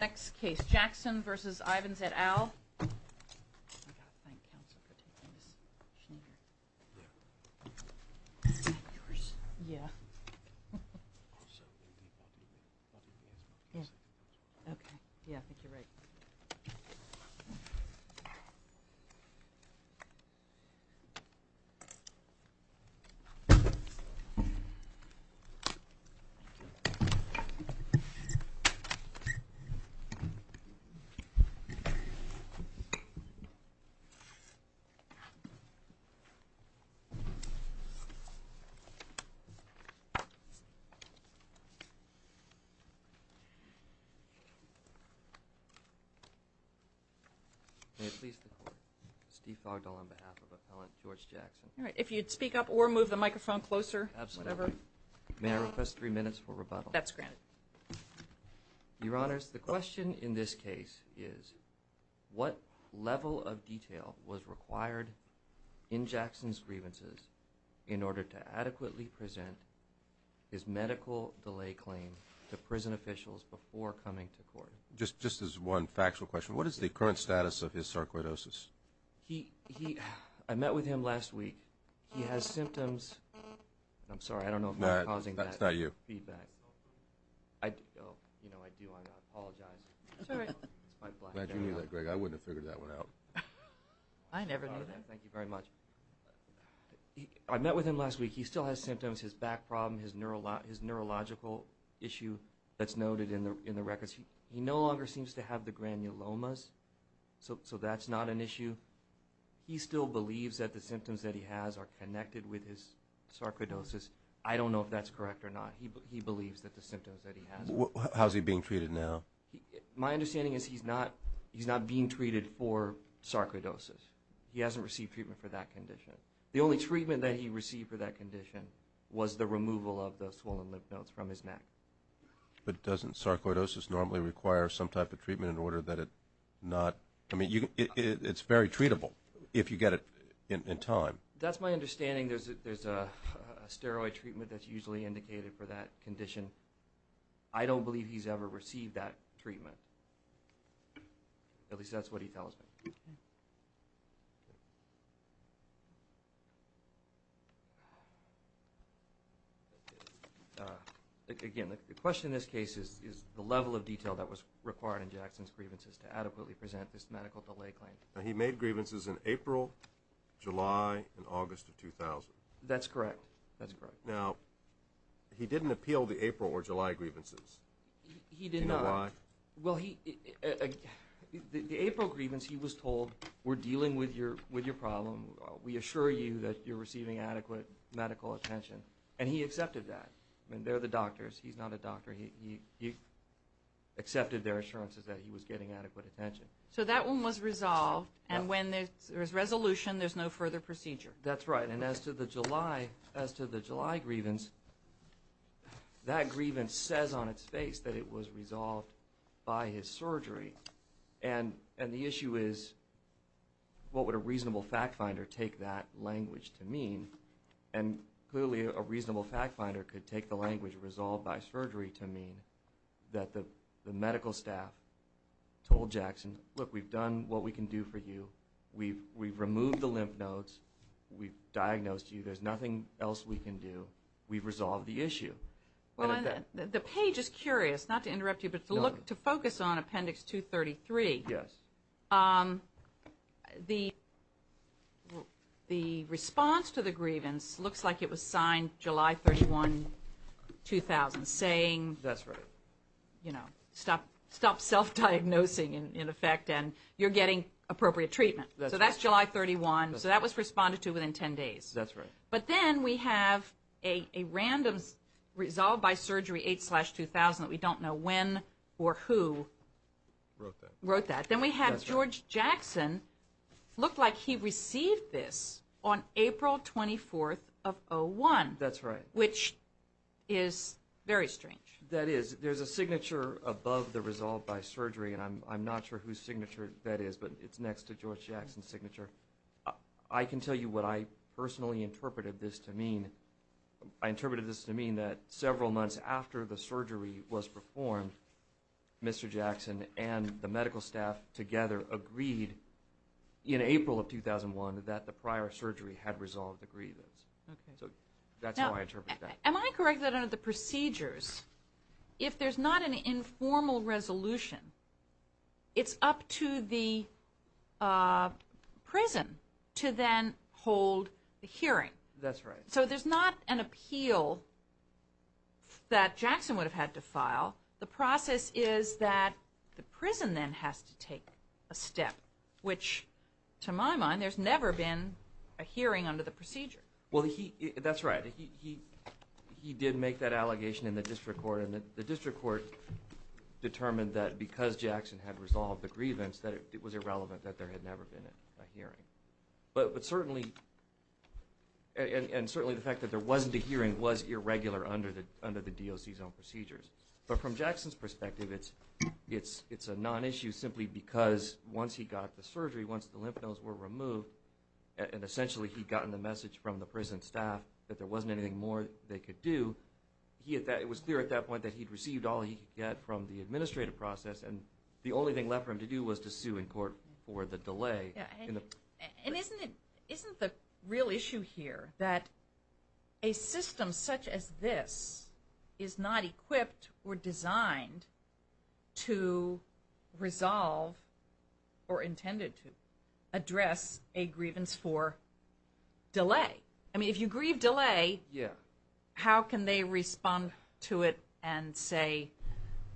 Next case, Jackson v. Ivens et al. May it please the Court, Steve Fogdall on behalf of Appellant George Jackson. All right. If you'd speak up or move the microphone closer, whatever. May I request three minutes for rebuttal? That's granted. Your Honors, the question in this case is, what level of detail was required in Jackson's grievances in order to adequately present his medical delay claim to prison officials before coming to court? Just as one factual question, what is the current status of his sarcoidosis? I met with him last week. He has symptoms. I'm sorry, I don't know if I'm causing that feedback. You know, I do. I apologize. Glad you knew that, Greg. I wouldn't have figured that one out. I never knew that. Thank you very much. I met with him last week. He still has symptoms. His back problem, his neurological issue that's noted in the records. He no longer seems to have the granulomas, so that's not an issue. He still believes that the symptoms that he has are connected with his sarcoidosis. I don't know if that's correct or not. He believes that the symptoms that he has are. How is he being treated now? My understanding is he's not being treated for sarcoidosis. He hasn't received treatment for that condition. The only treatment that he received for that condition was the removal of the swollen lymph nodes from his neck. But doesn't sarcoidosis normally require some type of treatment in order that it not? I mean, it's very treatable if you get it in time. That's my understanding. There's a steroid treatment that's usually indicated for that condition. I don't believe he's ever received that treatment. At least that's what he tells me. Again, the question in this case is the level of detail that was required in Jackson's grievances to adequately present this medical delay claim. Now, he made grievances in April, July, and August of 2000. That's correct. That's correct. Now, he didn't appeal the April or July grievances. He did not. Do you know why? Well, the April grievance he was told, we're dealing with your problem. We assure you that you're receiving adequate medical attention. And he accepted that. I mean, they're the doctors. He's not a doctor. He accepted their assurances that he was getting adequate attention. So that one was resolved. And when there's resolution, there's no further procedure. That's right. And as to the July grievance, that grievance says on its face that it was resolved by his surgery. And the issue is what would a reasonable fact finder take that language to mean? And clearly a reasonable fact finder could take the language resolved by surgery to mean that the medical staff told Jackson, look, we've done what we can do for you. We've removed the lymph nodes. We've diagnosed you. There's nothing else we can do. We've resolved the issue. The page is curious, not to interrupt you, but to focus on Appendix 233. Yes. The response to the grievance looks like it was signed July 31, 2000, saying, you know, stop self-diagnosing, in effect, and you're getting appropriate treatment. So that's July 31. So that was responded to within 10 days. That's right. But then we have a random resolved by surgery 8-2000 that we don't know when or who wrote that. Then we have George Jackson. It looked like he received this on April 24th of 2001. That's right. Which is very strange. That is. There's a signature above the resolved by surgery, and I'm not sure whose signature that is, but it's next to George Jackson's signature. I can tell you what I personally interpreted this to mean. I interpreted this to mean that several months after the surgery was performed, Mr. Jackson and the medical staff together agreed in April of 2001 that the prior surgery had resolved the grievance. Okay. So that's how I interpreted that. Am I correct that under the procedures, if there's not an informal resolution, it's up to the prison to then hold the hearing? That's right. So there's not an appeal that Jackson would have had to file. The process is that the prison then has to take a step, which to my mind, there's never been a hearing under the procedure. Well, that's right. He did make that allegation in the district court, and the district court determined that because Jackson had resolved the grievance, that it was irrelevant that there had never been a hearing. But certainly, and certainly the fact that there wasn't a hearing was irregular under the DOC's own procedures. But from Jackson's perspective, it's a non-issue simply because once he got the surgery, once the lymph nodes were removed and essentially he'd gotten the message from the prison staff that there wasn't anything more they could do, it was clear at that point that he'd received all he could get from the administrative process, and the only thing left for him to do was to sue in court for the delay. And isn't the real issue here that a system such as this is not equipped or designed to resolve or intended to address a grievance for delay? I mean, if you grieve delay, how can they respond to it and say,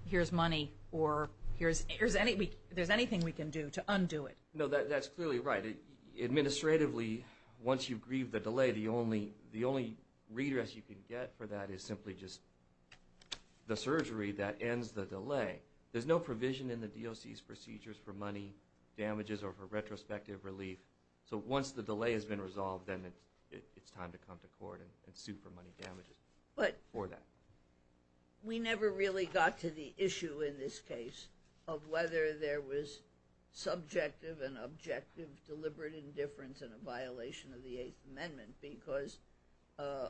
here's money or there's anything we can do to undo it? No, that's clearly right. Administratively, once you grieve the delay, the only redress you can get for that is simply just the surgery that ends the delay. There's no provision in the DOC's procedures for money damages or for retrospective relief. So once the delay has been resolved, then it's time to come to court and sue for money damages for that. We never really got to the issue in this case of whether there was subjective and objective deliberate indifference in a violation of the Eighth Amendment because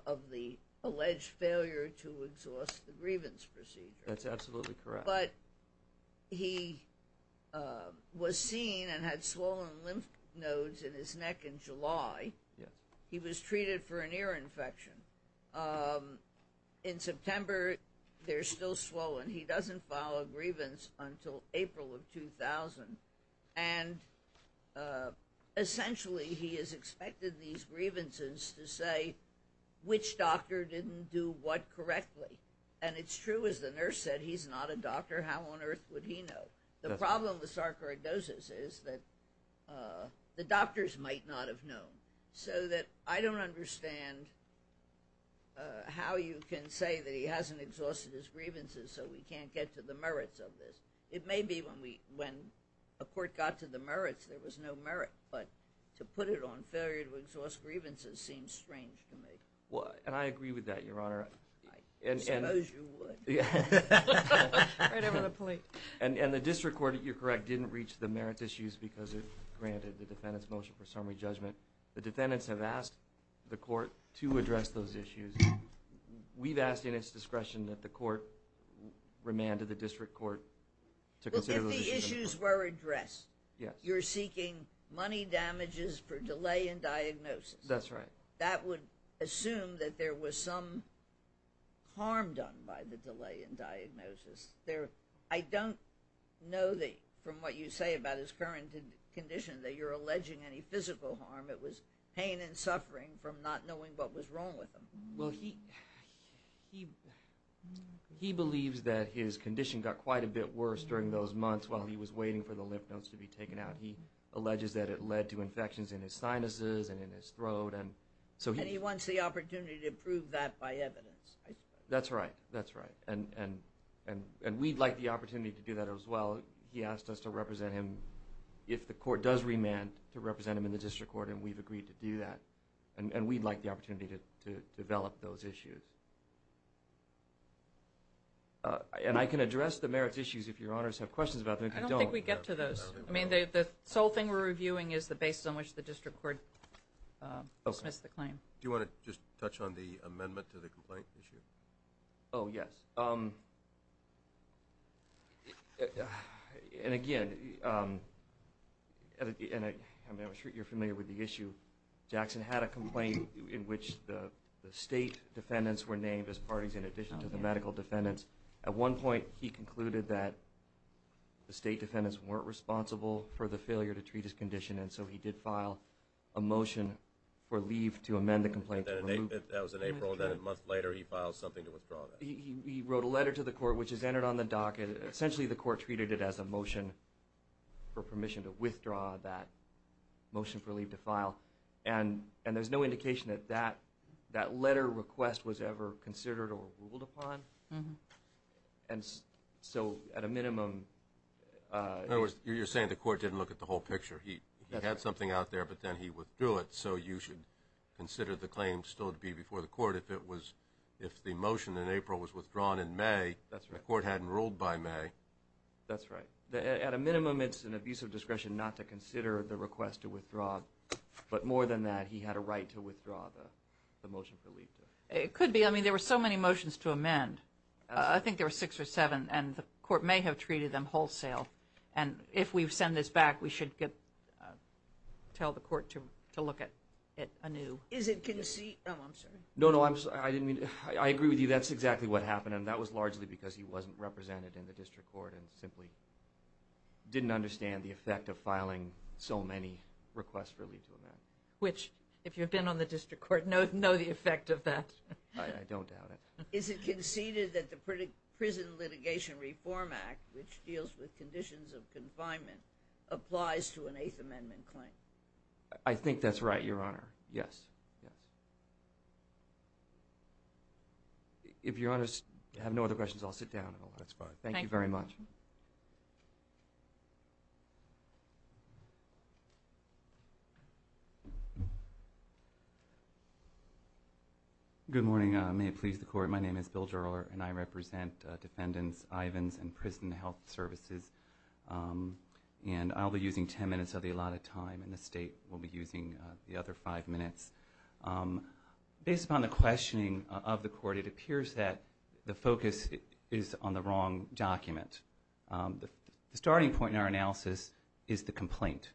of the alleged failure to exhaust the grievance procedure. That's absolutely correct. But he was seen and had swollen lymph nodes in his neck in July. He was treated for an ear infection. In September, they're still swollen. He doesn't file a grievance until April of 2000. And essentially, he has expected these grievances to say which doctor didn't do what correctly. And it's true, as the nurse said, he's not a doctor. How on earth would he know? The problem with sarcoidosis is that the doctors might not have known. So that I don't understand how you can say that he hasn't exhausted his grievances so we can't get to the merits of this. It may be when a court got to the merits, there was no merit. But to put it on failure to exhaust grievances seems strange to me. And I agree with that, Your Honor. I suppose you would. Right over the plate. And the district court, you're correct, didn't reach the merits issues because it granted the defendant's motion for summary judgment. The defendants have asked the court to address those issues. We've asked in its discretion that the court remanded the district court to consider those issues. If the issues were addressed, you're seeking money damages for delay in diagnosis. That's right. That would assume that there was some harm done by the delay in diagnosis. I don't know from what you say about his current condition that you're alleging any physical harm. It was pain and suffering from not knowing what was wrong with him. Well, he believes that his condition got quite a bit worse during those months while he was waiting for the lymph nodes to be taken out. He alleges that it led to infections in his sinuses and in his throat. And he wants the opportunity to prove that by evidence. That's right. That's right. And we'd like the opportunity to do that as well. He asked us to represent him, if the court does remand, to represent him in the district court, and we've agreed to do that. And we'd like the opportunity to develop those issues. And I can address the merits issues if your honors have questions about them. I don't think we get to those. I mean, the sole thing we're reviewing is the basis on which the district court dismissed the claim. Do you want to just touch on the amendment to the complaint issue? Oh, yes. And, again, I'm sure you're familiar with the issue. Jackson had a complaint in which the state defendants were named as parties in addition to the medical defendants. At one point, he concluded that the state defendants weren't responsible for the failure to treat his condition, and so he did file a motion for leave to amend the complaint. That was in April, and then a month later, he filed something to withdraw that. He wrote a letter to the court, which is entered on the docket. Essentially, the court treated it as a motion for permission to withdraw that motion for leave to file. And there's no indication that that letter request was ever considered or ruled upon. And so, at a minimum – In other words, you're saying the court didn't look at the whole picture. He had something out there, but then he withdrew it. So you should consider the claim still to be before the court. If the motion in April was withdrawn in May, the court hadn't ruled by May. That's right. At a minimum, it's an abuse of discretion not to consider the request to withdraw. But more than that, he had a right to withdraw the motion for leave. It could be. I mean, there were so many motions to amend. I think there were six or seven, and the court may have treated them wholesale. And if we send this back, we should tell the court to look at anew. Is it conceded? Oh, I'm sorry. No, no. I agree with you. That's exactly what happened. And that was largely because he wasn't represented in the district court and simply didn't understand the effect of filing so many requests for leave to amend. Which, if you've been on the district court, know the effect of that. I don't doubt it. Is it conceded that the Prison Litigation Reform Act, which deals with conditions of confinement, applies to an Eighth Amendment claim? I think that's right, Your Honor. Yes. If Your Honors have no other questions, I'll sit down. Thank you very much. Good morning. May it please the Court. My name is Bill Gerohr, and I represent Defendants Ivins and Prison Health Services. And I'll be using ten minutes of the allotted time, and the State will be using the other five minutes. Based upon the questioning of the Court, it appears that the focus is on the wrong document. The starting point in our analysis is the complaint.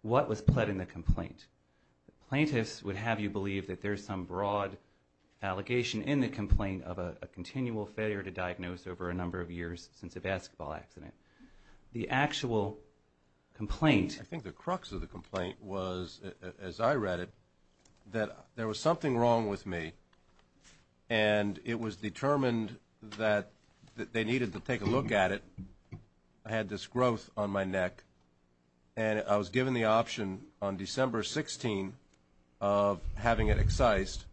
What was pled in the complaint? Plaintiffs would have you believe that there's some broad allegation in the complaint of a continual failure to diagnose over a number of years since a basketball accident. The actual complaint. I think the crux of the complaint was, as I read it, that there was something wrong with me, and it was determined that they needed to take a look at it. I had this growth on my neck, and I was given the option on December 16th of having it excised.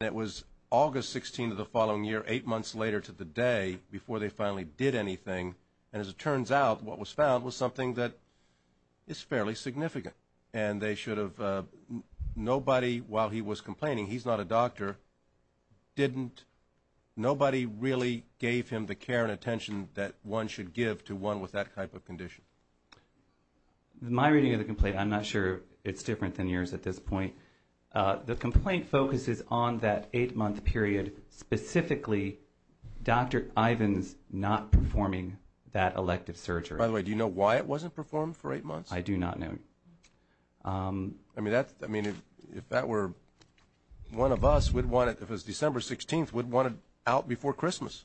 And it was August 16th of the following year, eight months later to the day, before they finally did anything. And as it turns out, what was found was something that is fairly significant. And they should have, nobody, while he was complaining, he's not a doctor, nobody really gave him the care and attention that one should give to one with that type of condition. In my reading of the complaint, I'm not sure it's different than yours at this point. The complaint focuses on that eight-month period, specifically Dr. Ivins not performing that elective surgery. By the way, do you know why it wasn't performed for eight months? I do not know. I mean, if that were one of us, we'd want it, if it was December 16th, we'd want it out before Christmas.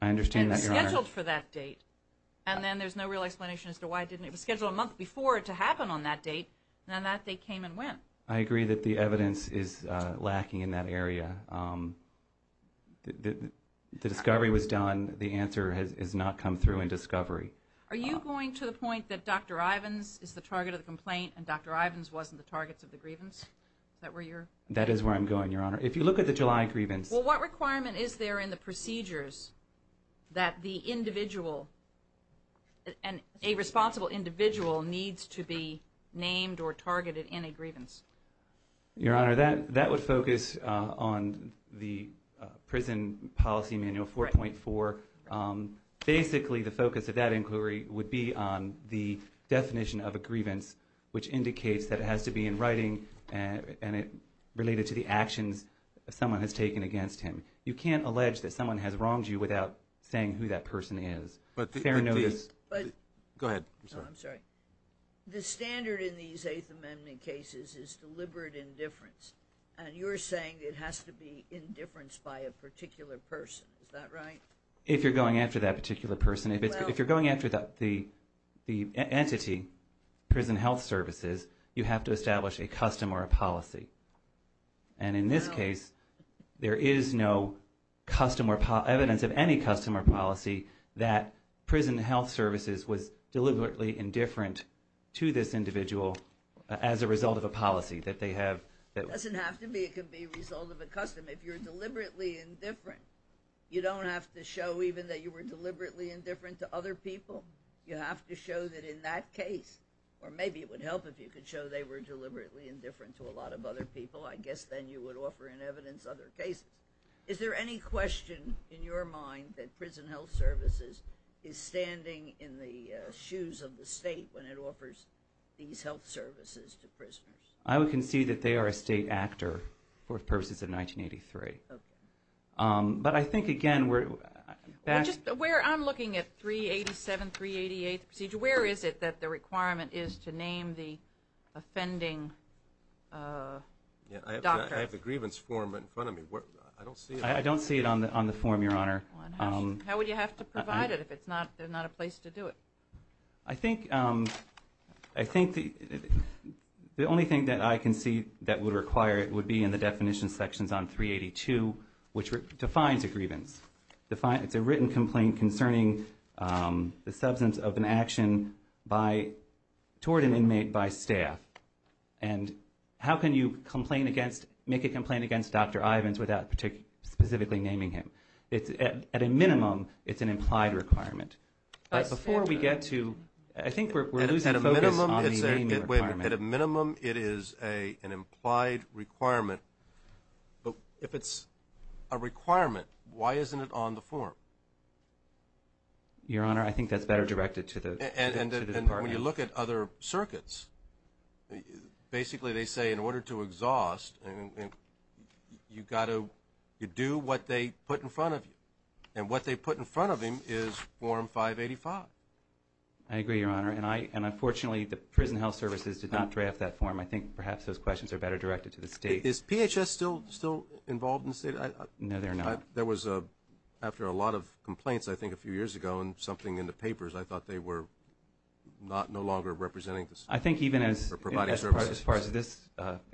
I understand that, Your Honor. And scheduled for that date. And then there's no real explanation as to why it didn't, it was scheduled a month before to happen on that date, and on that date came and went. I agree that the evidence is lacking in that area. The discovery was done. The answer has not come through in discovery. Are you going to the point that Dr. Ivins is the target of the complaint and Dr. Ivins wasn't the target of the grievance? Is that where you're? That is where I'm going, Your Honor. If you look at the July grievance. Well, what requirement is there in the procedures that the individual, a responsible individual needs to be named or targeted in a grievance? Your Honor, that would focus on the prison policy manual 4.4. Basically, the focus of that inquiry would be on the definition of a grievance, which indicates that it has to be in writing and related to the actions someone has taken against him. You can't allege that someone has wronged you without saying who that person is. Fair notice. Go ahead. I'm sorry. The standard in these Eighth Amendment cases is deliberate indifference, and you're saying it has to be indifference by a particular person. Is that right? If you're going after that particular person, if you're going after the entity, prison health services, you have to establish a custom or a policy. And in this case, there is no evidence of any custom or policy that prison health services was deliberately indifferent to this individual as a result of a policy that they have. It doesn't have to be. It can be a result of a custom. If you're deliberately indifferent, you don't have to show even that you were deliberately indifferent to other people. You have to show that in that case, or maybe it would help if you could show they were deliberately indifferent to a lot of other people. I guess then you would offer in evidence other cases. Is there any question in your mind that prison health services is standing in the shoes of the state when it offers these health services to prisoners? I would concede that they are a state actor for purposes of 1983. Okay. But I think, again, we're back. I'm looking at 387, 388, the procedure. Where is it that the requirement is to name the offending doctor? I have the grievance form in front of me. I don't see it. I don't see it on the form, Your Honor. How would you have to provide it if there's not a place to do it? I think the only thing that I can see that would require it would be in the definition sections on 382, which defines a grievance. It's a written complaint concerning the substance of an action toward an inmate by staff. And how can you make a complaint against Dr. Ivins without specifically naming him? At a minimum, it's an implied requirement. Before we get to – I think we're losing focus on the naming requirement. At a minimum, it is an implied requirement. But if it's a requirement, why isn't it on the form? Your Honor, I think that's better directed to the department. And when you look at other circuits, basically they say in order to exhaust, you've got to do what they put in front of you. And what they put in front of him is Form 585. I agree, Your Honor. And unfortunately, the prison health services did not draft that form. I think perhaps those questions are better directed to the state. Is PHS still involved in the state? No, they're not. There was, after a lot of complaints, I think a few years ago, and something in the papers, I thought they were no longer representing the state. I think even as far as this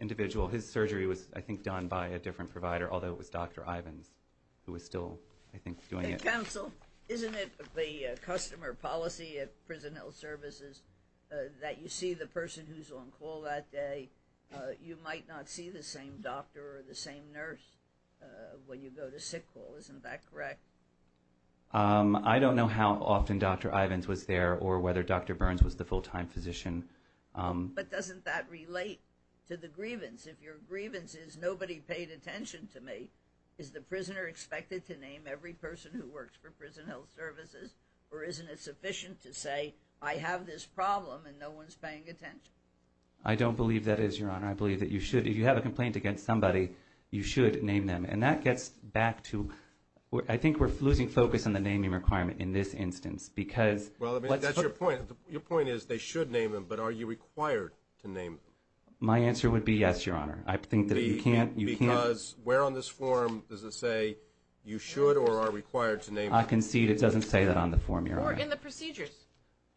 individual, his surgery was, I think, done by a different provider, although it was Dr. Ivins who was still, I think, doing it. Counsel, isn't it the customer policy at prison health services that you see the person who's on call that day, you might not see the same doctor or the same nurse when you go to sick call? Isn't that correct? I don't know how often Dr. Ivins was there or whether Dr. Burns was the full-time physician. But doesn't that relate to the grievance? If your grievance is nobody paid attention to me, is the prisoner expected to name every person who works for prison health services? Or isn't it sufficient to say, I have this problem and no one's paying attention? I don't believe that is, Your Honor. I believe that you should, if you have a complaint against somebody, you should name them. And that gets back to, I think we're losing focus on the naming requirement in this instance. Well, that's your point. Your point is they should name them, but are you required to name them? My answer would be yes, Your Honor. Because where on this form does it say you should or are required to name them? I concede it doesn't say that on the form, Your Honor. Or in the procedures.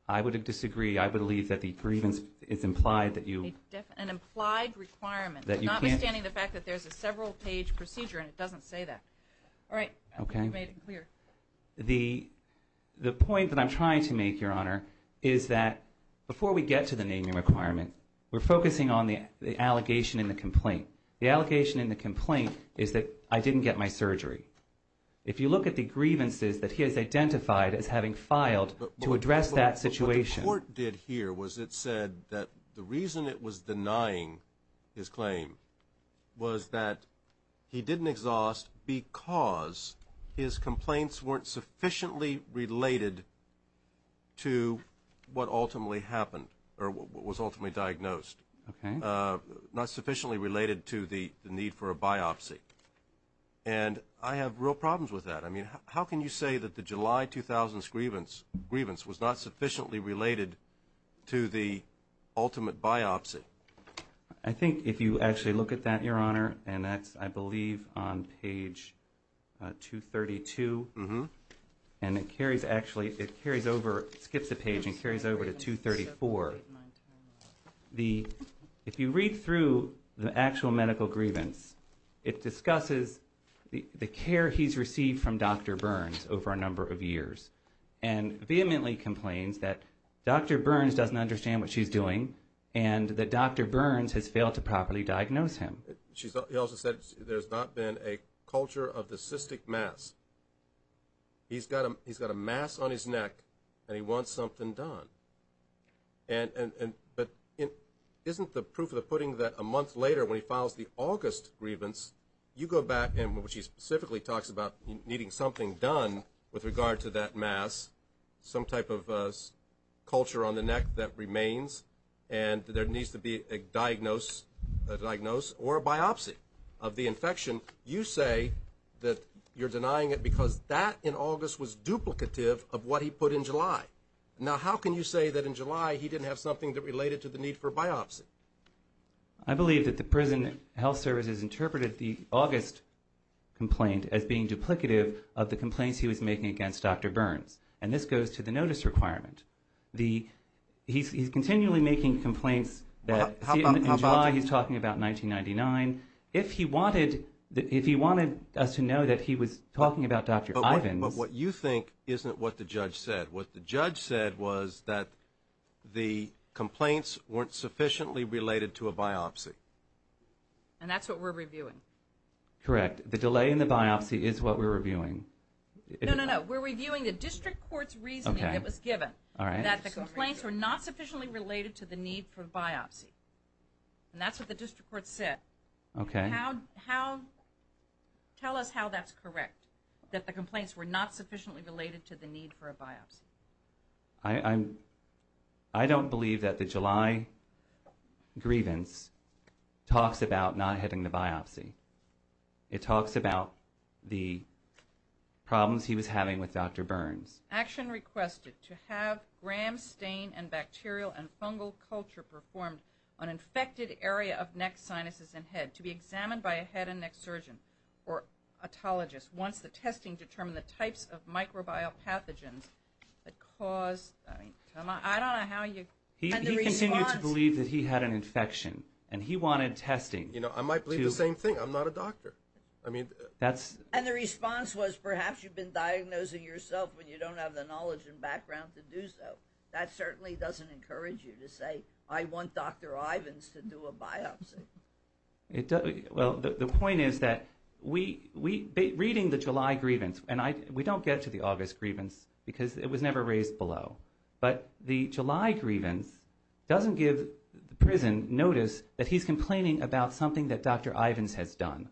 I would disagree. I believe that the grievance is implied that you can't. An implied requirement. Notwithstanding the fact that there's a several-page procedure and it doesn't say that. All right, I hope you made it clear. The point that I'm trying to make, Your Honor, is that before we get to the naming requirement, we're focusing on the allegation in the complaint. The allegation in the complaint is that I didn't get my surgery. If you look at the grievances that he has identified as having filed to address that situation. What the court did here was it said that the reason it was denying his claim was that he didn't exhaust because his complaints weren't sufficiently related to what ultimately happened or what was ultimately diagnosed. Okay. Not sufficiently related to the need for a biopsy. And I have real problems with that. I mean, how can you say that the July 2000 grievance was not sufficiently related to the ultimate biopsy? I think if you actually look at that, Your Honor, and that's, I believe, on page 232. And it carries over, skips a page, and carries over to 234. If you read through the actual medical grievance, it discusses the care he's received from Dr. Burns over a number of years and vehemently complains that Dr. Burns doesn't understand what she's doing and that Dr. Burns has failed to properly diagnose him. He also said there's not been a culture of the cystic mass. He's got a mass on his neck and he wants something done. But isn't the proof of the pudding that a month later, when he files the August grievance, you go back, which he specifically talks about needing something done with regard to that mass, some type of culture on the neck that remains, and there needs to be a diagnose or a biopsy of the infection. You say that you're denying it because that, in August, was duplicative of what he put in July. Now, how can you say that in July he didn't have something that related to the need for a biopsy? I believe that the prison health services interpreted the August complaint as being duplicative of the complaints he was making against Dr. Burns, and this goes to the notice requirement. He's continually making complaints that in July he's talking about 1999. If he wanted us to know that he was talking about Dr. Ivins. But what you think isn't what the judge said. What the judge said was that the complaints weren't sufficiently related to a biopsy. And that's what we're reviewing. Correct. The delay in the biopsy is what we're reviewing. No, no, no. We're reviewing the district court's reasoning that was given, that the complaints were not sufficiently related to the need for a biopsy. And that's what the district court said. Okay. Tell us how that's correct, that the complaints were not sufficiently related to the need for a biopsy. I don't believe that the July grievance talks about not having the biopsy. It talks about the problems he was having with Dr. Burns. Action requested to have gram stain and bacterial and fungal culture performed on infected area of neck, sinuses, and head to be examined by a head and neck surgeon or otologist once the testing determined the types of microbial pathogens that caused. I don't know how you. He continued to believe that he had an infection and he wanted testing. I might believe the same thing. I'm not a doctor. And the response was perhaps you've been diagnosing yourself when you don't have the knowledge and background to do so. That certainly doesn't encourage you to say I want Dr. Ivins to do a biopsy. Well, the point is that reading the July grievance, and we don't get to the August grievance because it was never raised below, but the July grievance doesn't give the prison notice that he's complaining about something that Dr. Ivins has done.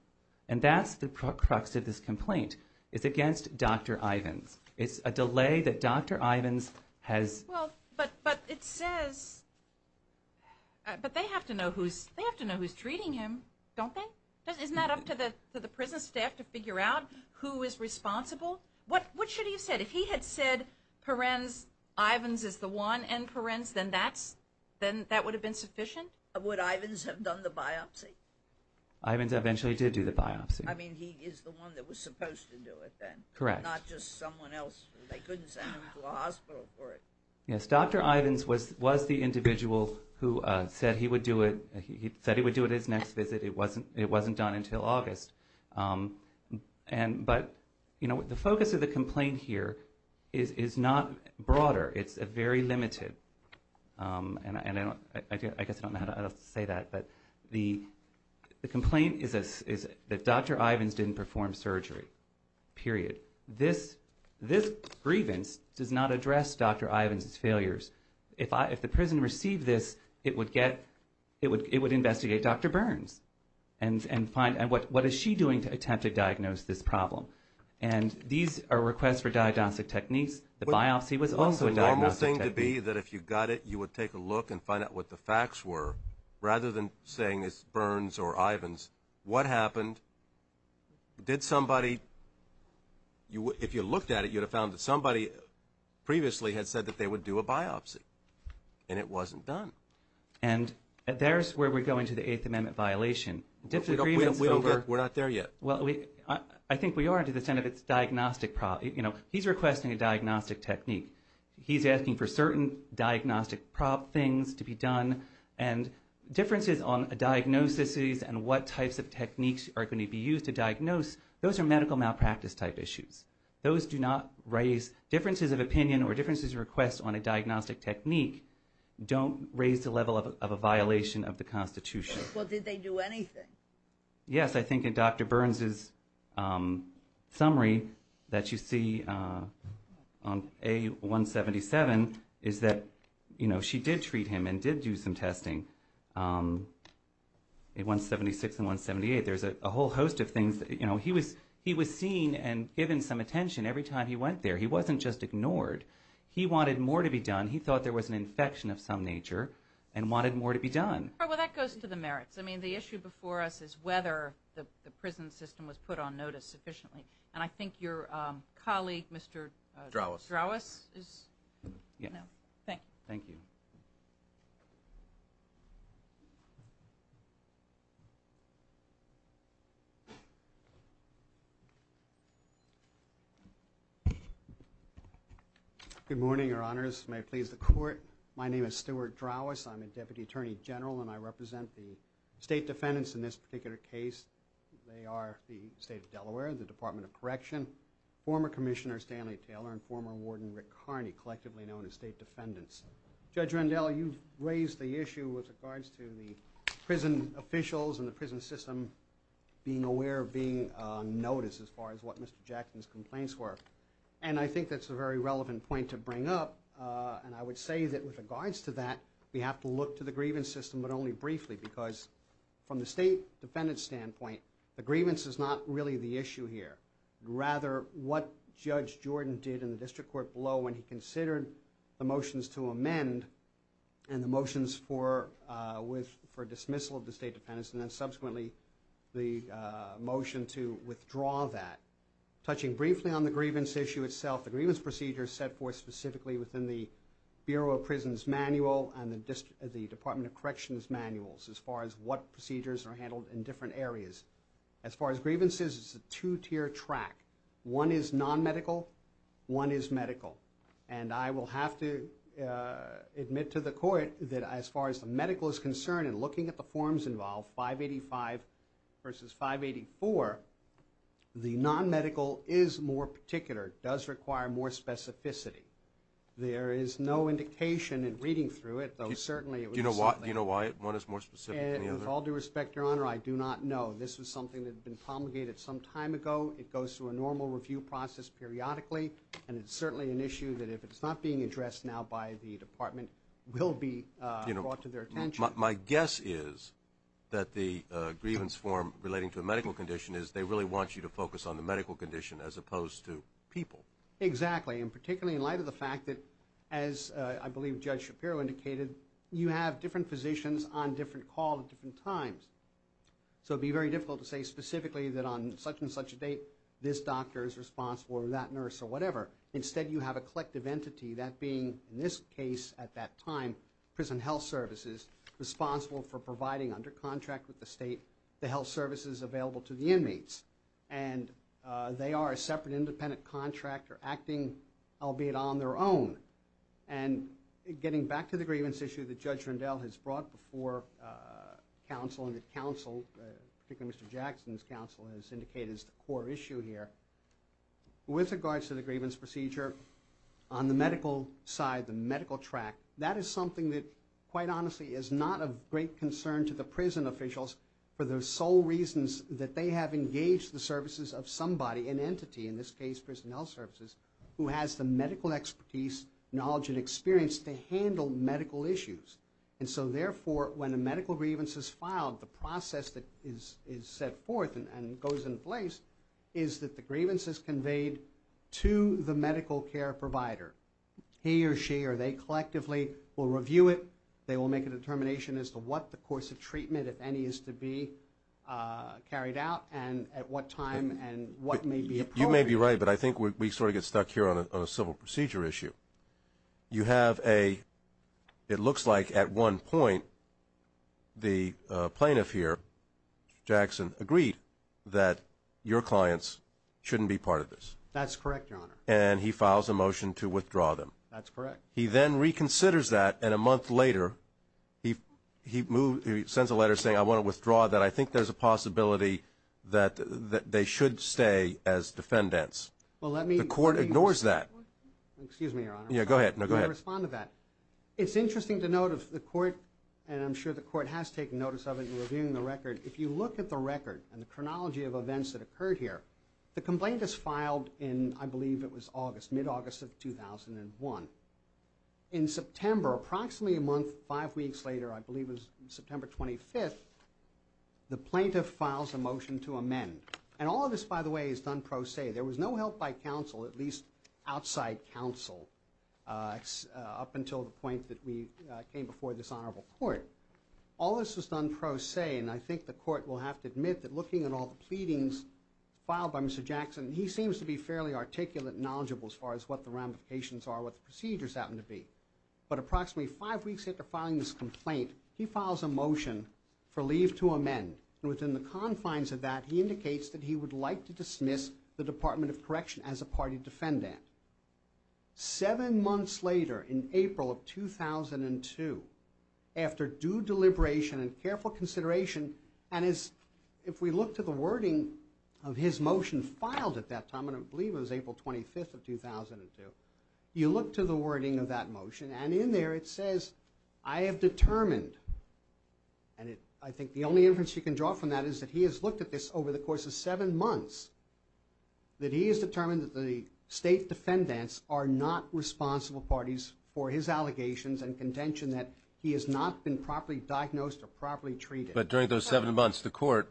And that's the crux of this complaint. It's against Dr. Ivins. It's a delay that Dr. Ivins has. Well, but it says, but they have to know who's treating him, don't they? Isn't that up to the prison staff to figure out who is responsible? What should he have said? If he had said, Perenz, Ivins is the one and Perenz, then that would have been sufficient? Would Ivins have done the biopsy? Ivins eventually did do the biopsy. I mean, he is the one that was supposed to do it then. Correct. Not just someone else. They couldn't send him to a hospital for it. Yes, Dr. Ivins was the individual who said he would do it. He said he would do it at his next visit. It wasn't done until August. But, you know, the focus of the complaint here is not broader. It's very limited, and I guess I don't know how to say that, but the complaint is that Dr. Ivins didn't perform surgery, period. This grievance does not address Dr. Ivins' failures. If the prison received this, it would investigate Dr. Burns and what is she doing to attempt to diagnose this problem. And these are requests for diagnostic techniques. The biopsy was also a diagnostic technique. The normal thing to be that if you got it, you would take a look and find out what the facts were rather than saying it's Burns or Ivins. What happened? Did somebody? If you looked at it, you would have found that somebody previously had said that they would do a biopsy, and it wasn't done. And there's where we go into the Eighth Amendment violation. We're not there yet. Well, I think we are to the extent of it's a diagnostic problem. You know, he's requesting a diagnostic technique. He's asking for certain diagnostic prop things to be done. And differences on diagnoses and what types of techniques are going to be used to diagnose, those are medical malpractice-type issues. Those do not raise differences of opinion or differences of request on a diagnostic technique don't raise the level of a violation of the Constitution. Well, did they do anything? Yes, I think in Dr. Burns' summary that you see on A-177 is that, you know, she did treat him and did do some testing. A-176 and 178, there's a whole host of things. You know, he was seen and given some attention every time he went there. He wasn't just ignored. He wanted more to be done. He thought there was an infection of some nature and wanted more to be done. Well, that goes to the merits. I mean, the issue before us is whether the prison system was put on notice sufficiently. And I think your colleague, Mr. Drouwes, is... Yeah. Thank you. Thank you. Good morning, Your Honors. May it please the Court. My name is Stuart Drouwes. I'm a Deputy Attorney General, and I represent the state defendants in this particular case. They are the State of Delaware, the Department of Correction, former Commissioner Stanley Taylor, and former Warden Rick Carney, collectively known as State Defendants. Judge Rendell, you've raised the issue with regards to the prison officials and the prison system being aware of being on notice as far as what Mr. Jackson's complaints were. And I think that's a very relevant point to bring up, and I would say that with regards to that, we have to look to the grievance system, but only briefly, because from the state defendant's standpoint, the grievance is not really the issue here. Rather, what Judge Jordan did in the district court below when he considered the motions to amend and the motions for dismissal of the state defendants and then subsequently the motion to withdraw that. Touching briefly on the grievance issue itself, the grievance procedure set forth specifically within the Bureau of Prisons Manual and the Department of Corrections Manuals as far as what procedures are handled in different areas. As far as grievances, it's a two-tier track. One is non-medical, one is medical. And I will have to admit to the court that as far as the medical is concerned in looking at the forms involved, 585 versus 584, the non-medical is more particular, does require more specificity. There is no indication in reading through it, though certainly it would be something... Do you know why one is more specific than the other? With all due respect, Your Honor, I do not know. This was something that had been promulgated some time ago. It goes through a normal review process periodically, and it's certainly an issue that if it's not being addressed now by the department, will be brought to their attention. My guess is that the grievance form relating to a medical condition is they really want you to focus on the medical condition as opposed to people. Exactly. And particularly in light of the fact that, as I believe Judge Shapiro indicated, you have different physicians on different calls at different times. So it would be very difficult to say specifically that on such and such a date, this doctor is responsible or that nurse or whatever. Instead, you have a collective entity, that being in this case at that time, prison health services, responsible for providing under contract with the state the health services available to the inmates. And they are a separate independent contractor acting, albeit on their own. And getting back to the grievance issue that Judge Rundell has brought before counsel and that counsel, particularly Mr. Jackson's counsel, has indicated as the core issue here, with regards to the grievance procedure, on the medical side, the medical track, that is something that, quite honestly, is not of great concern to the prison officials for the sole reasons that they have engaged the services of somebody, an entity, in this case prison health services, who has the medical expertise, knowledge, and experience to handle medical issues. And so, therefore, when a medical grievance is filed, the process that is set forth and goes in place is that the grievance is conveyed to the medical care provider. He or she or they collectively will review it. They will make a determination as to what the course of treatment, if any, is to be carried out and at what time and what may be appropriate. You may be right, but I think we sort of get stuck here on a civil procedure issue. You have a, it looks like at one point, the plaintiff here, Jackson, agreed that your clients shouldn't be part of this. That's correct, Your Honor. And he files a motion to withdraw them. That's correct. He then reconsiders that, and a month later, he sends a letter saying, I want to withdraw that. I think there's a possibility that they should stay as defendants. The court ignores that. Excuse me, Your Honor. Yeah, go ahead. No, go ahead. Let me respond to that. It's interesting to note if the court, and I'm sure the court has taken notice of it in reviewing the record, if you look at the record and the chronology of events that occurred here, the complaint is filed in, I believe it was August, mid-August of 2001. In September, approximately a month, five weeks later, I believe it was September 25th, the plaintiff files a motion to amend. And all of this, by the way, is done pro se. There was no help by counsel, at least outside counsel, up until the point that we came before this honorable court. All of this was done pro se, and I think the court will have to admit that looking at all the pleadings filed by Mr. Jackson, he seems to be fairly articulate and knowledgeable as far as what the ramifications are, what the procedures happen to be. But approximately five weeks after filing this complaint, he files a motion for leave to amend. And within the confines of that, he indicates that he would like to dismiss the Department of Correction as a party defendant. Seven months later, in April of 2002, after due deliberation and careful consideration, and if we look to the wording of his motion filed at that time, I believe it was April 25th of 2002, you look to the wording of that motion, and in there it says, I have determined, and I think the only inference you can draw from that is that he has looked at this over the course of seven months, that he has determined that the state defendants are not responsible parties for his allegations and contention that he has not been properly diagnosed or properly treated. But during those seven months, the court,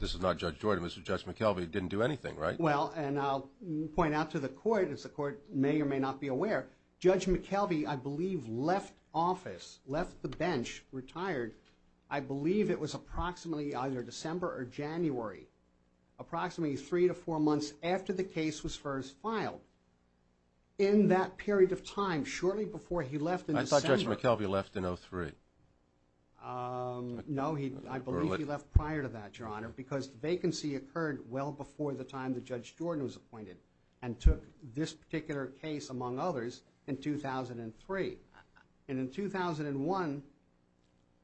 this is not Judge Jordan, this is Judge McKelvey, didn't do anything, right? Well, and I'll point out to the court, as the court may or may not be aware, Judge McKelvey, I believe, left office, left the bench, retired, I believe it was approximately either December or January, approximately three to four months after the case was first filed. In that period of time, shortly before he left in December... I thought Judge McKelvey left in 2003. No, I believe he left prior to that, Your Honor, because the vacancy occurred well before the time that Judge Jordan was appointed and took this particular case, among others, in 2003. And in 2001,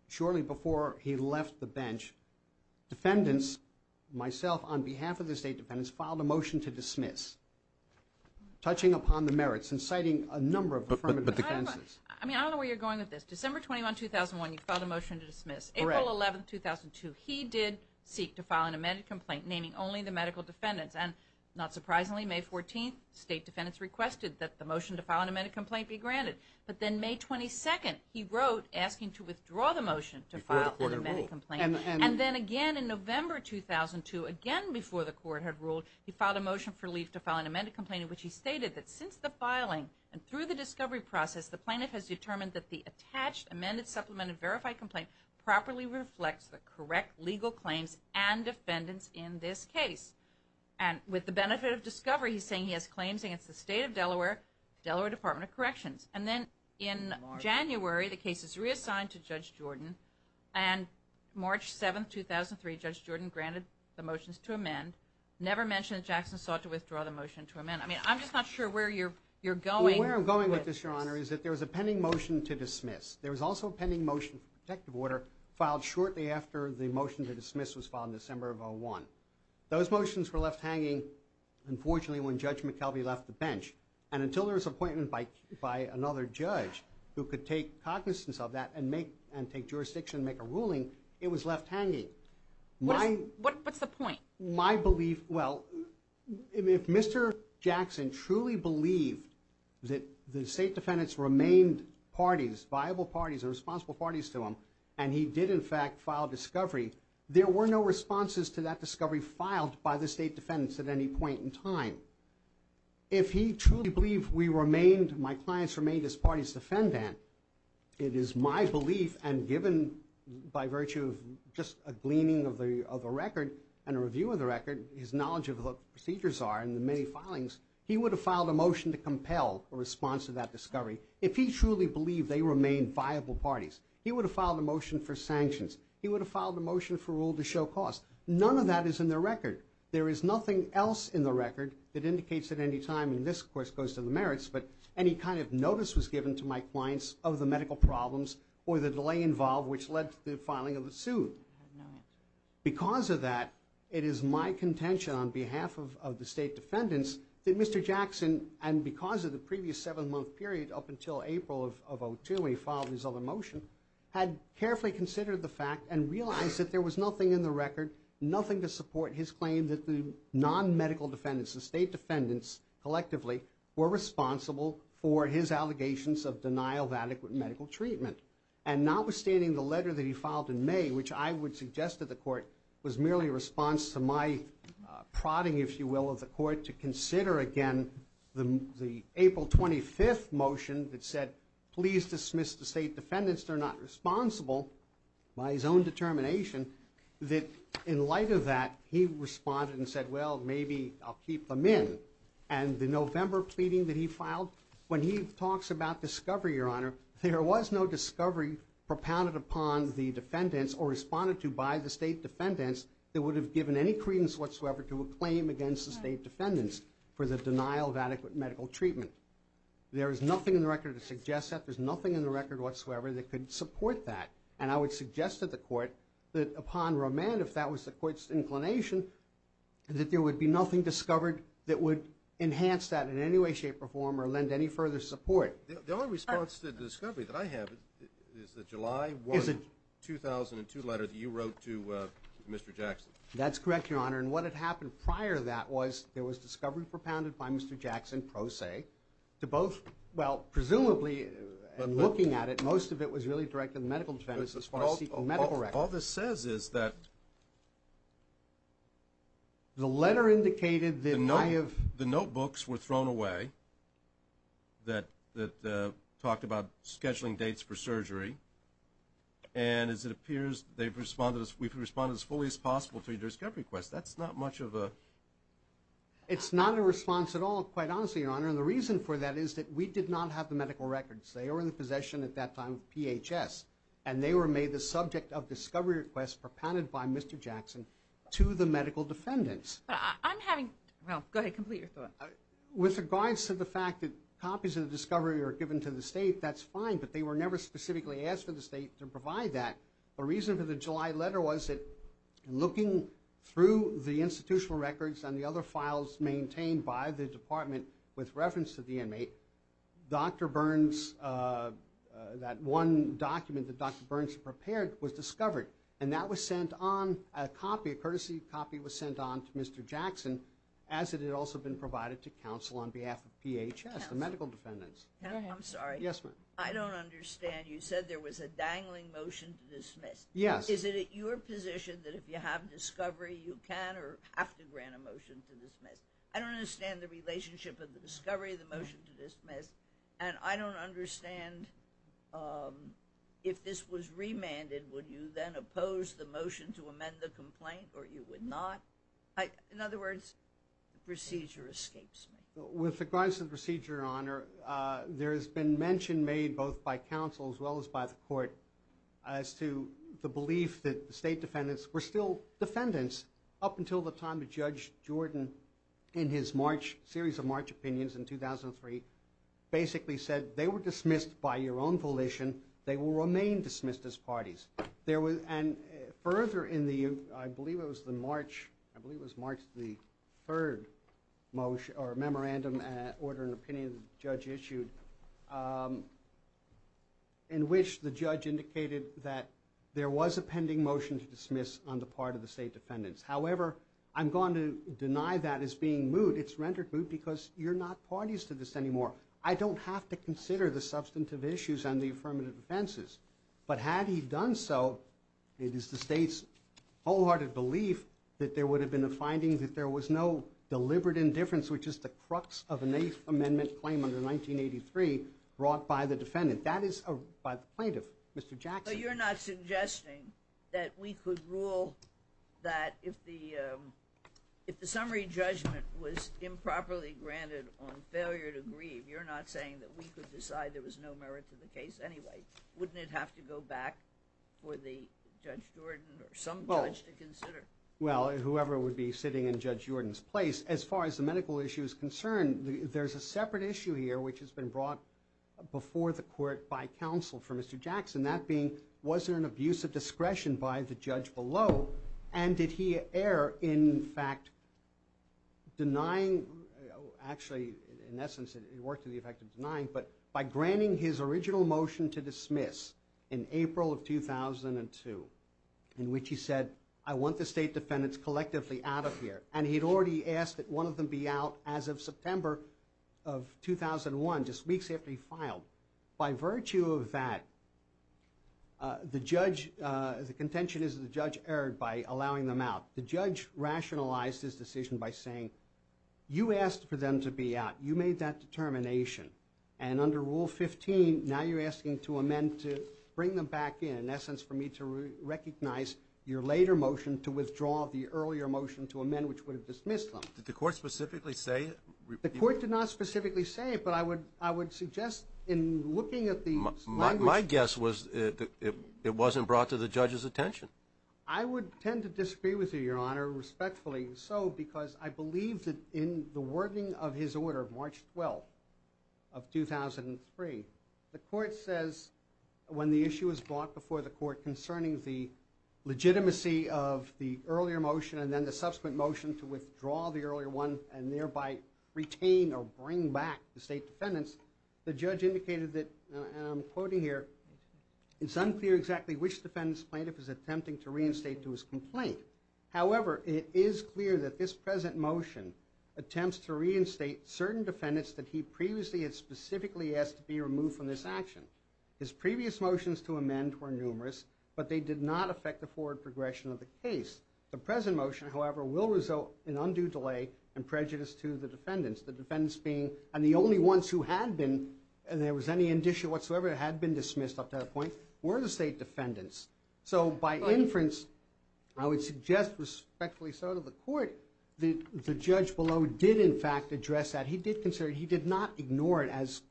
shortly before he left the bench, defendants, myself on behalf of the state defendants, filed a motion to dismiss, touching upon the merits and citing a number of affirmative defenses. I mean, I don't know where you're going with this. December 21, 2001, you filed a motion to dismiss. April 11, 2002, he did seek to file an amended complaint, naming only the medical defendants. And not surprisingly, May 14, state defendants requested that the motion to file an amended complaint be granted. But then May 22, he wrote asking to withdraw the motion to file an amended complaint. And then again in November 2002, again before the court had ruled, he filed a motion for leave to file an amended complaint in which he stated that since the filing and through the discovery process, the plaintiff has determined that the attached, amended, supplemented, verified complaint properly reflects the correct legal claims and defendants in this case. And with the benefit of discovery, he's saying he has claims against the state of Delaware, Delaware Department of Corrections. And then in January, the case is reassigned to Judge Jordan. And March 7, 2003, Judge Jordan granted the motions to amend, never mentioned that Jackson sought to withdraw the motion to amend. I mean, I'm just not sure where you're going with this. is that there's a pending motion to dismiss. There was also a pending motion for protective order filed shortly after the motion to dismiss was filed in December of 2001. Those motions were left hanging, unfortunately, when Judge McKelvey left the bench. And until there was an appointment by another judge who could take cognizance of that and take jurisdiction and make a ruling, it was left hanging. What's the point? My belief, well, if Mr. Jackson truly believed that the state defendants remained parties, viable parties and responsible parties to him, and he did, in fact, file a discovery, there were no responses to that discovery filed by the state defendants at any point in time. If he truly believed we remained, my clients remained his party's defendant, it is my belief, and given by virtue of just a gleaning of a record and a review of the record, his knowledge of what the procedures are and the many filings, he would have filed a motion to compel a response to that discovery. If he truly believed they remained viable parties, he would have filed a motion for sanctions. He would have filed a motion for rule to show cause. None of that is in the record. There is nothing else in the record that indicates at any time, and this, of course, goes to the merits, but any kind of notice was given to my clients of the medical problems or the delay involved, which led to the filing of the suit. Because of that, it is my contention on behalf of the state defendants that Mr. Jackson, and because of the previous seven-month period up until April of 2002 when he filed his other motion, had carefully considered the fact and realized that there was nothing in the record, nothing to support his claim that the non-medical defendants, the state defendants collectively, were responsible for his allegations of denial of adequate medical treatment. And notwithstanding the letter that he filed in May, which I would suggest to the court was merely a response to my prodding, if you will, of the court to consider again the April 25th motion that said, please dismiss the state defendants, they're not responsible, by his own determination, that in light of that, he responded and said, well, maybe I'll keep them in. And the November pleading that he filed, when he talks about discovery, Your Honor, there was no discovery propounded upon the defendants or responded to by the state defendants that would have given any credence whatsoever to a claim against the state defendants for the denial of adequate medical treatment. There is nothing in the record to suggest that. There's nothing in the record whatsoever that could support that. And I would suggest to the court that upon remand, if that was the court's inclination, that there would be nothing discovered that would enhance that in any way, shape, or form or lend any further support. The only response to the discovery that I have That's correct, Your Honor. And what had happened prior to that was there was discovery propounded by Mr. Jackson, pro se, to both, well, presumably, looking at it, most of it was really directed to the medical defendants as far as seeking medical records. All this says is that... The letter indicated that my... The notebooks were thrown away that talked about scheduling dates for surgery. And as it appears, they've responded, we've responded as fully as possible to your discovery request. That's not much of a... It's not a response at all, quite honestly, Your Honor. And the reason for that is that we did not have the medical records. They were in the possession at that time of PHS. And they were made the subject of discovery requests propounded by Mr. Jackson to the medical defendants. But I'm having... Well, go ahead, complete your thought. With regards to the fact that copies of the discovery are given to the state, that's fine, but they were never specifically asked for the state to provide that. The reason for the July letter was that looking through the institutional records and the other files maintained by the department with reference to the inmate, Dr. Burns... That one document that Dr. Burns prepared was discovered. And that was sent on, a copy, a courtesy copy was sent on to Mr. Jackson as it had also been provided to counsel on behalf of PHS, the medical defendants. I'm sorry. Yes, ma'am. I don't understand. You said there was a dangling motion to dismiss. Yes. Is it your position that if you have discovery, you can or have to grant a motion to dismiss? I don't understand the relationship of the discovery of the motion to dismiss, and I don't understand if this was remanded, would you then oppose the motion to amend the complaint or you would not? In other words, the procedure escapes me. With regards to the procedure, Your Honor, there has been mention made both by counsel as well as by the court as to the belief that the state defendants were still defendants up until the time that Judge Jordan, in his series of March opinions in 2003, basically said they were dismissed by your own volition, they will remain dismissed as parties. And further in the... I believe it was the March... I believe it was March the 3rd memorandum, order and opinion the judge issued, in which the judge indicated that there was a pending motion to dismiss on the part of the state defendants. However, I'm going to deny that as being moot. It's rendered moot because you're not parties to this anymore. I don't have to consider the substantive issues on the affirmative offenses. But had he done so, it is the state's wholehearted belief that there would have been a finding that there was no deliberate indifference, which is the crux of an Eighth Amendment claim under 1983 brought by the defendant. That is by the plaintiff, Mr. Jackson. But you're not suggesting that we could rule that if the summary judgment was improperly granted on failure to grieve, you're not saying that we could decide there was no merit to the case anyway? Wouldn't it have to go back for Judge Jordan or some judge to consider? Well, whoever would be sitting in Judge Jordan's place, as far as the medical issue is concerned, there's a separate issue here which has been brought before the court by counsel for Mr. Jackson, that being was there an abuse of discretion by the judge below, and did he err in fact denying... Actually, in essence, it worked to the effect of denying, but by granting his original motion to dismiss in April of 2002, in which he said, I want the state defendants collectively out of here, and he'd already asked that one of them be out as of September of 2001, just weeks after he filed. By virtue of that, the judge... The contention is the judge erred by allowing them out. The judge rationalized his decision by saying, you asked for them to be out. You made that determination. And under Rule 15, now you're asking to amend to bring them back in, in essence, for me to recognize your later motion to withdraw the earlier motion to amend which would have dismissed them. Did the court specifically say... The court did not specifically say it, but I would suggest in looking at the language... My guess was it wasn't brought to the judge's attention. I would tend to disagree with you, Your Honor, respectfully so, because I believe that in the wording of his order, March 12th of 2003, the court says, when the issue is brought before the court concerning the legitimacy of the earlier motion and then the subsequent motion to withdraw the earlier one and thereby retain or bring back the state defendants, the judge indicated that, and I'm quoting here, it's unclear exactly which defendants plaintiff is attempting to reinstate to his complaint. However, it is clear that this present motion attempts to reinstate certain defendants that he previously had specifically asked to be removed from this action. His previous motions to amend were numerous, but they did not affect the forward progression of the case. The present motion, however, will result in undue delay and prejudice to the defendants, the defendants being... And the only ones who had been, and there was any indicia whatsoever that had been dismissed up to that point, were the state defendants. So by inference, I would suggest respectfully so to the court, the judge below did in fact address that. He did consider... He did not ignore it as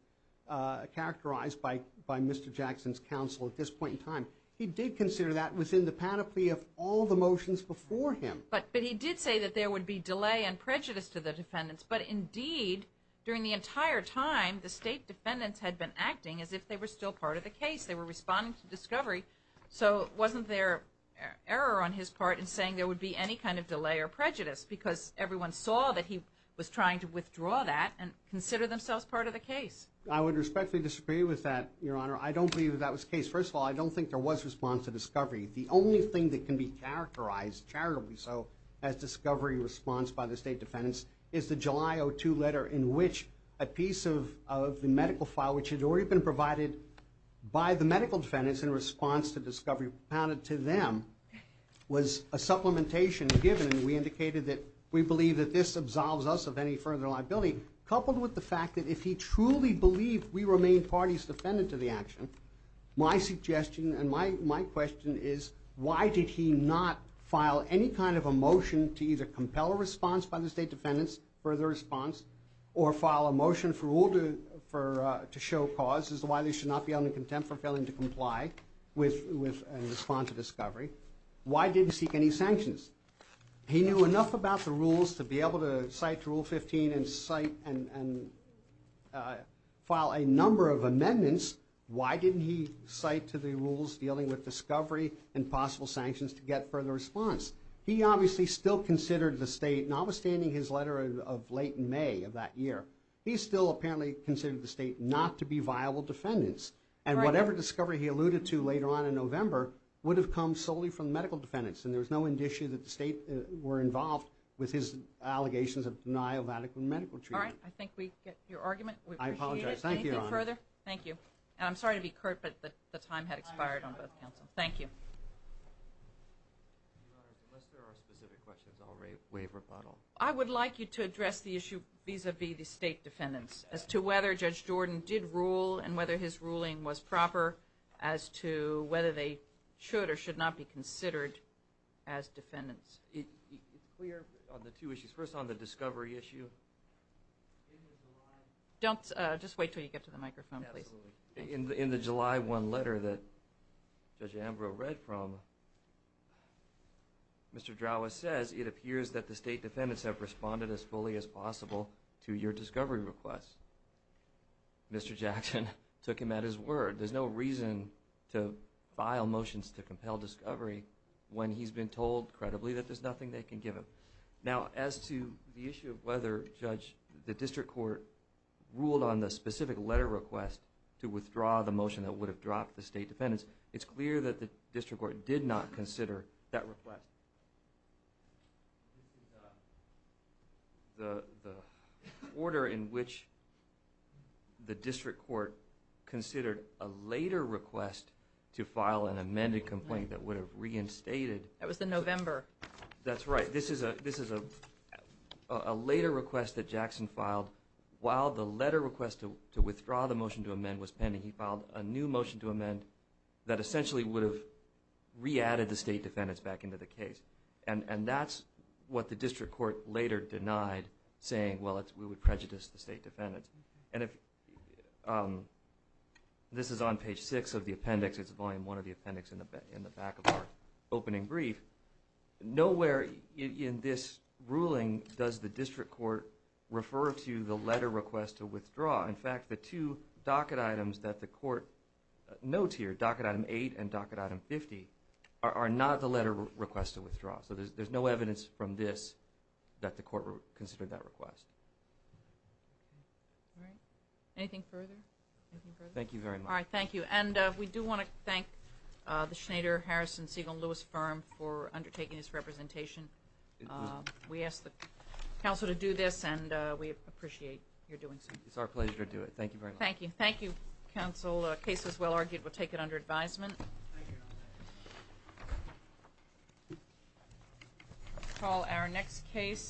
characterized by Mr. Jackson's counsel at this point in time. He did consider that within the panoply of all the motions before him. But he did say that there would be delay and prejudice to the defendants. But indeed, during the entire time, the state defendants had been acting as if they were still part of the case. They were responding to discovery. So wasn't there error on his part in saying there would be any kind of delay or prejudice because everyone saw that he was trying to withdraw that and consider themselves part of the case? I would respectfully disagree with that, Your Honor. I don't believe that was the case. First of all, I don't think there was response to discovery. The only thing that can be characterized, charitably so, as discovery response by the state defendants is the July 02 letter in which a piece of the medical file, which had already been provided by the medical defendants in response to discovery pounded to them, was a supplementation given, and we indicated that we believe that this absolves us of any further liability, coupled with the fact that if he truly believed we remained parties defendant to the action, my suggestion and my question is, why did he not file any kind of a motion to either compel a response by the state defendants for the response, or file a motion to show cause, as to why they should not be held in contempt for failing to comply with a response to discovery? Why didn't he seek any sanctions? He knew enough about the rules to be able to cite Rule 15 and file a number of amendments. Why didn't he cite to the rules dealing with discovery and possible sanctions to get further response? He obviously still considered the state, notwithstanding his letter of late May of that year, he still apparently considered the state not to be viable defendants, and whatever discovery he alluded to later on in November would have come solely from medical defendants, and there was no indicia that the state were involved with his allegations of denial of adequate medical treatment. All right, I think we get your argument. We appreciate it. I apologize. And I'm sorry to be curt, but the time had expired on both counsel. Thank you. Unless there are specific questions, I'll waive rebuttal. I would like you to address the issue vis-à-vis the state defendants as to whether Judge Jordan did rule and whether his ruling was proper as to whether they should or should not be considered as defendants. It's clear on the two issues. First on the discovery issue. Don't, just wait until you get to the microphone, please. Absolutely. In the July 1 letter that Judge Ambrose read from, Mr. Drower says, it appears that the state defendants have responded as fully as possible to your discovery request. Mr. Jackson took him at his word. There's no reason to file motions to compel discovery when he's been told credibly that there's nothing they can give him. Now, as to the issue of whether, Judge, the district court ruled on the specific letter request to withdraw the motion that would have dropped the state defendants, it's clear that the district court did not consider that request. The order in which the district court considered a later request to file an amended complaint that would have reinstated... That was in November. That's right. This is a later request that Jackson filed. While the letter request to withdraw the motion to amend was pending, he filed a new motion to amend that essentially would have re-added the state defendants back into the case. And that's what the district court later denied, saying, well, we would prejudice the state defendants. And this is on page 6 of the appendix. It's volume 1 of the appendix in the back of our opening brief. Nowhere in this ruling does the district court refer to the letter request to withdraw. In fact, the two docket items that the court notes here, docket item 8 and docket item 50, are not the letter request to withdraw. So there's no evidence from this that the court considered that request. All right. Anything further? Thank you very much. All right, thank you. And we do want to thank the Schneider, Harrison, Segal, and Lewis firm for undertaking this representation. We ask the council to do this, and we appreciate your doing so. It's our pleasure to do it. Thank you very much. Thank you. Thank you, council. The case is well argued. We'll take it under advisement. We'll call our next case.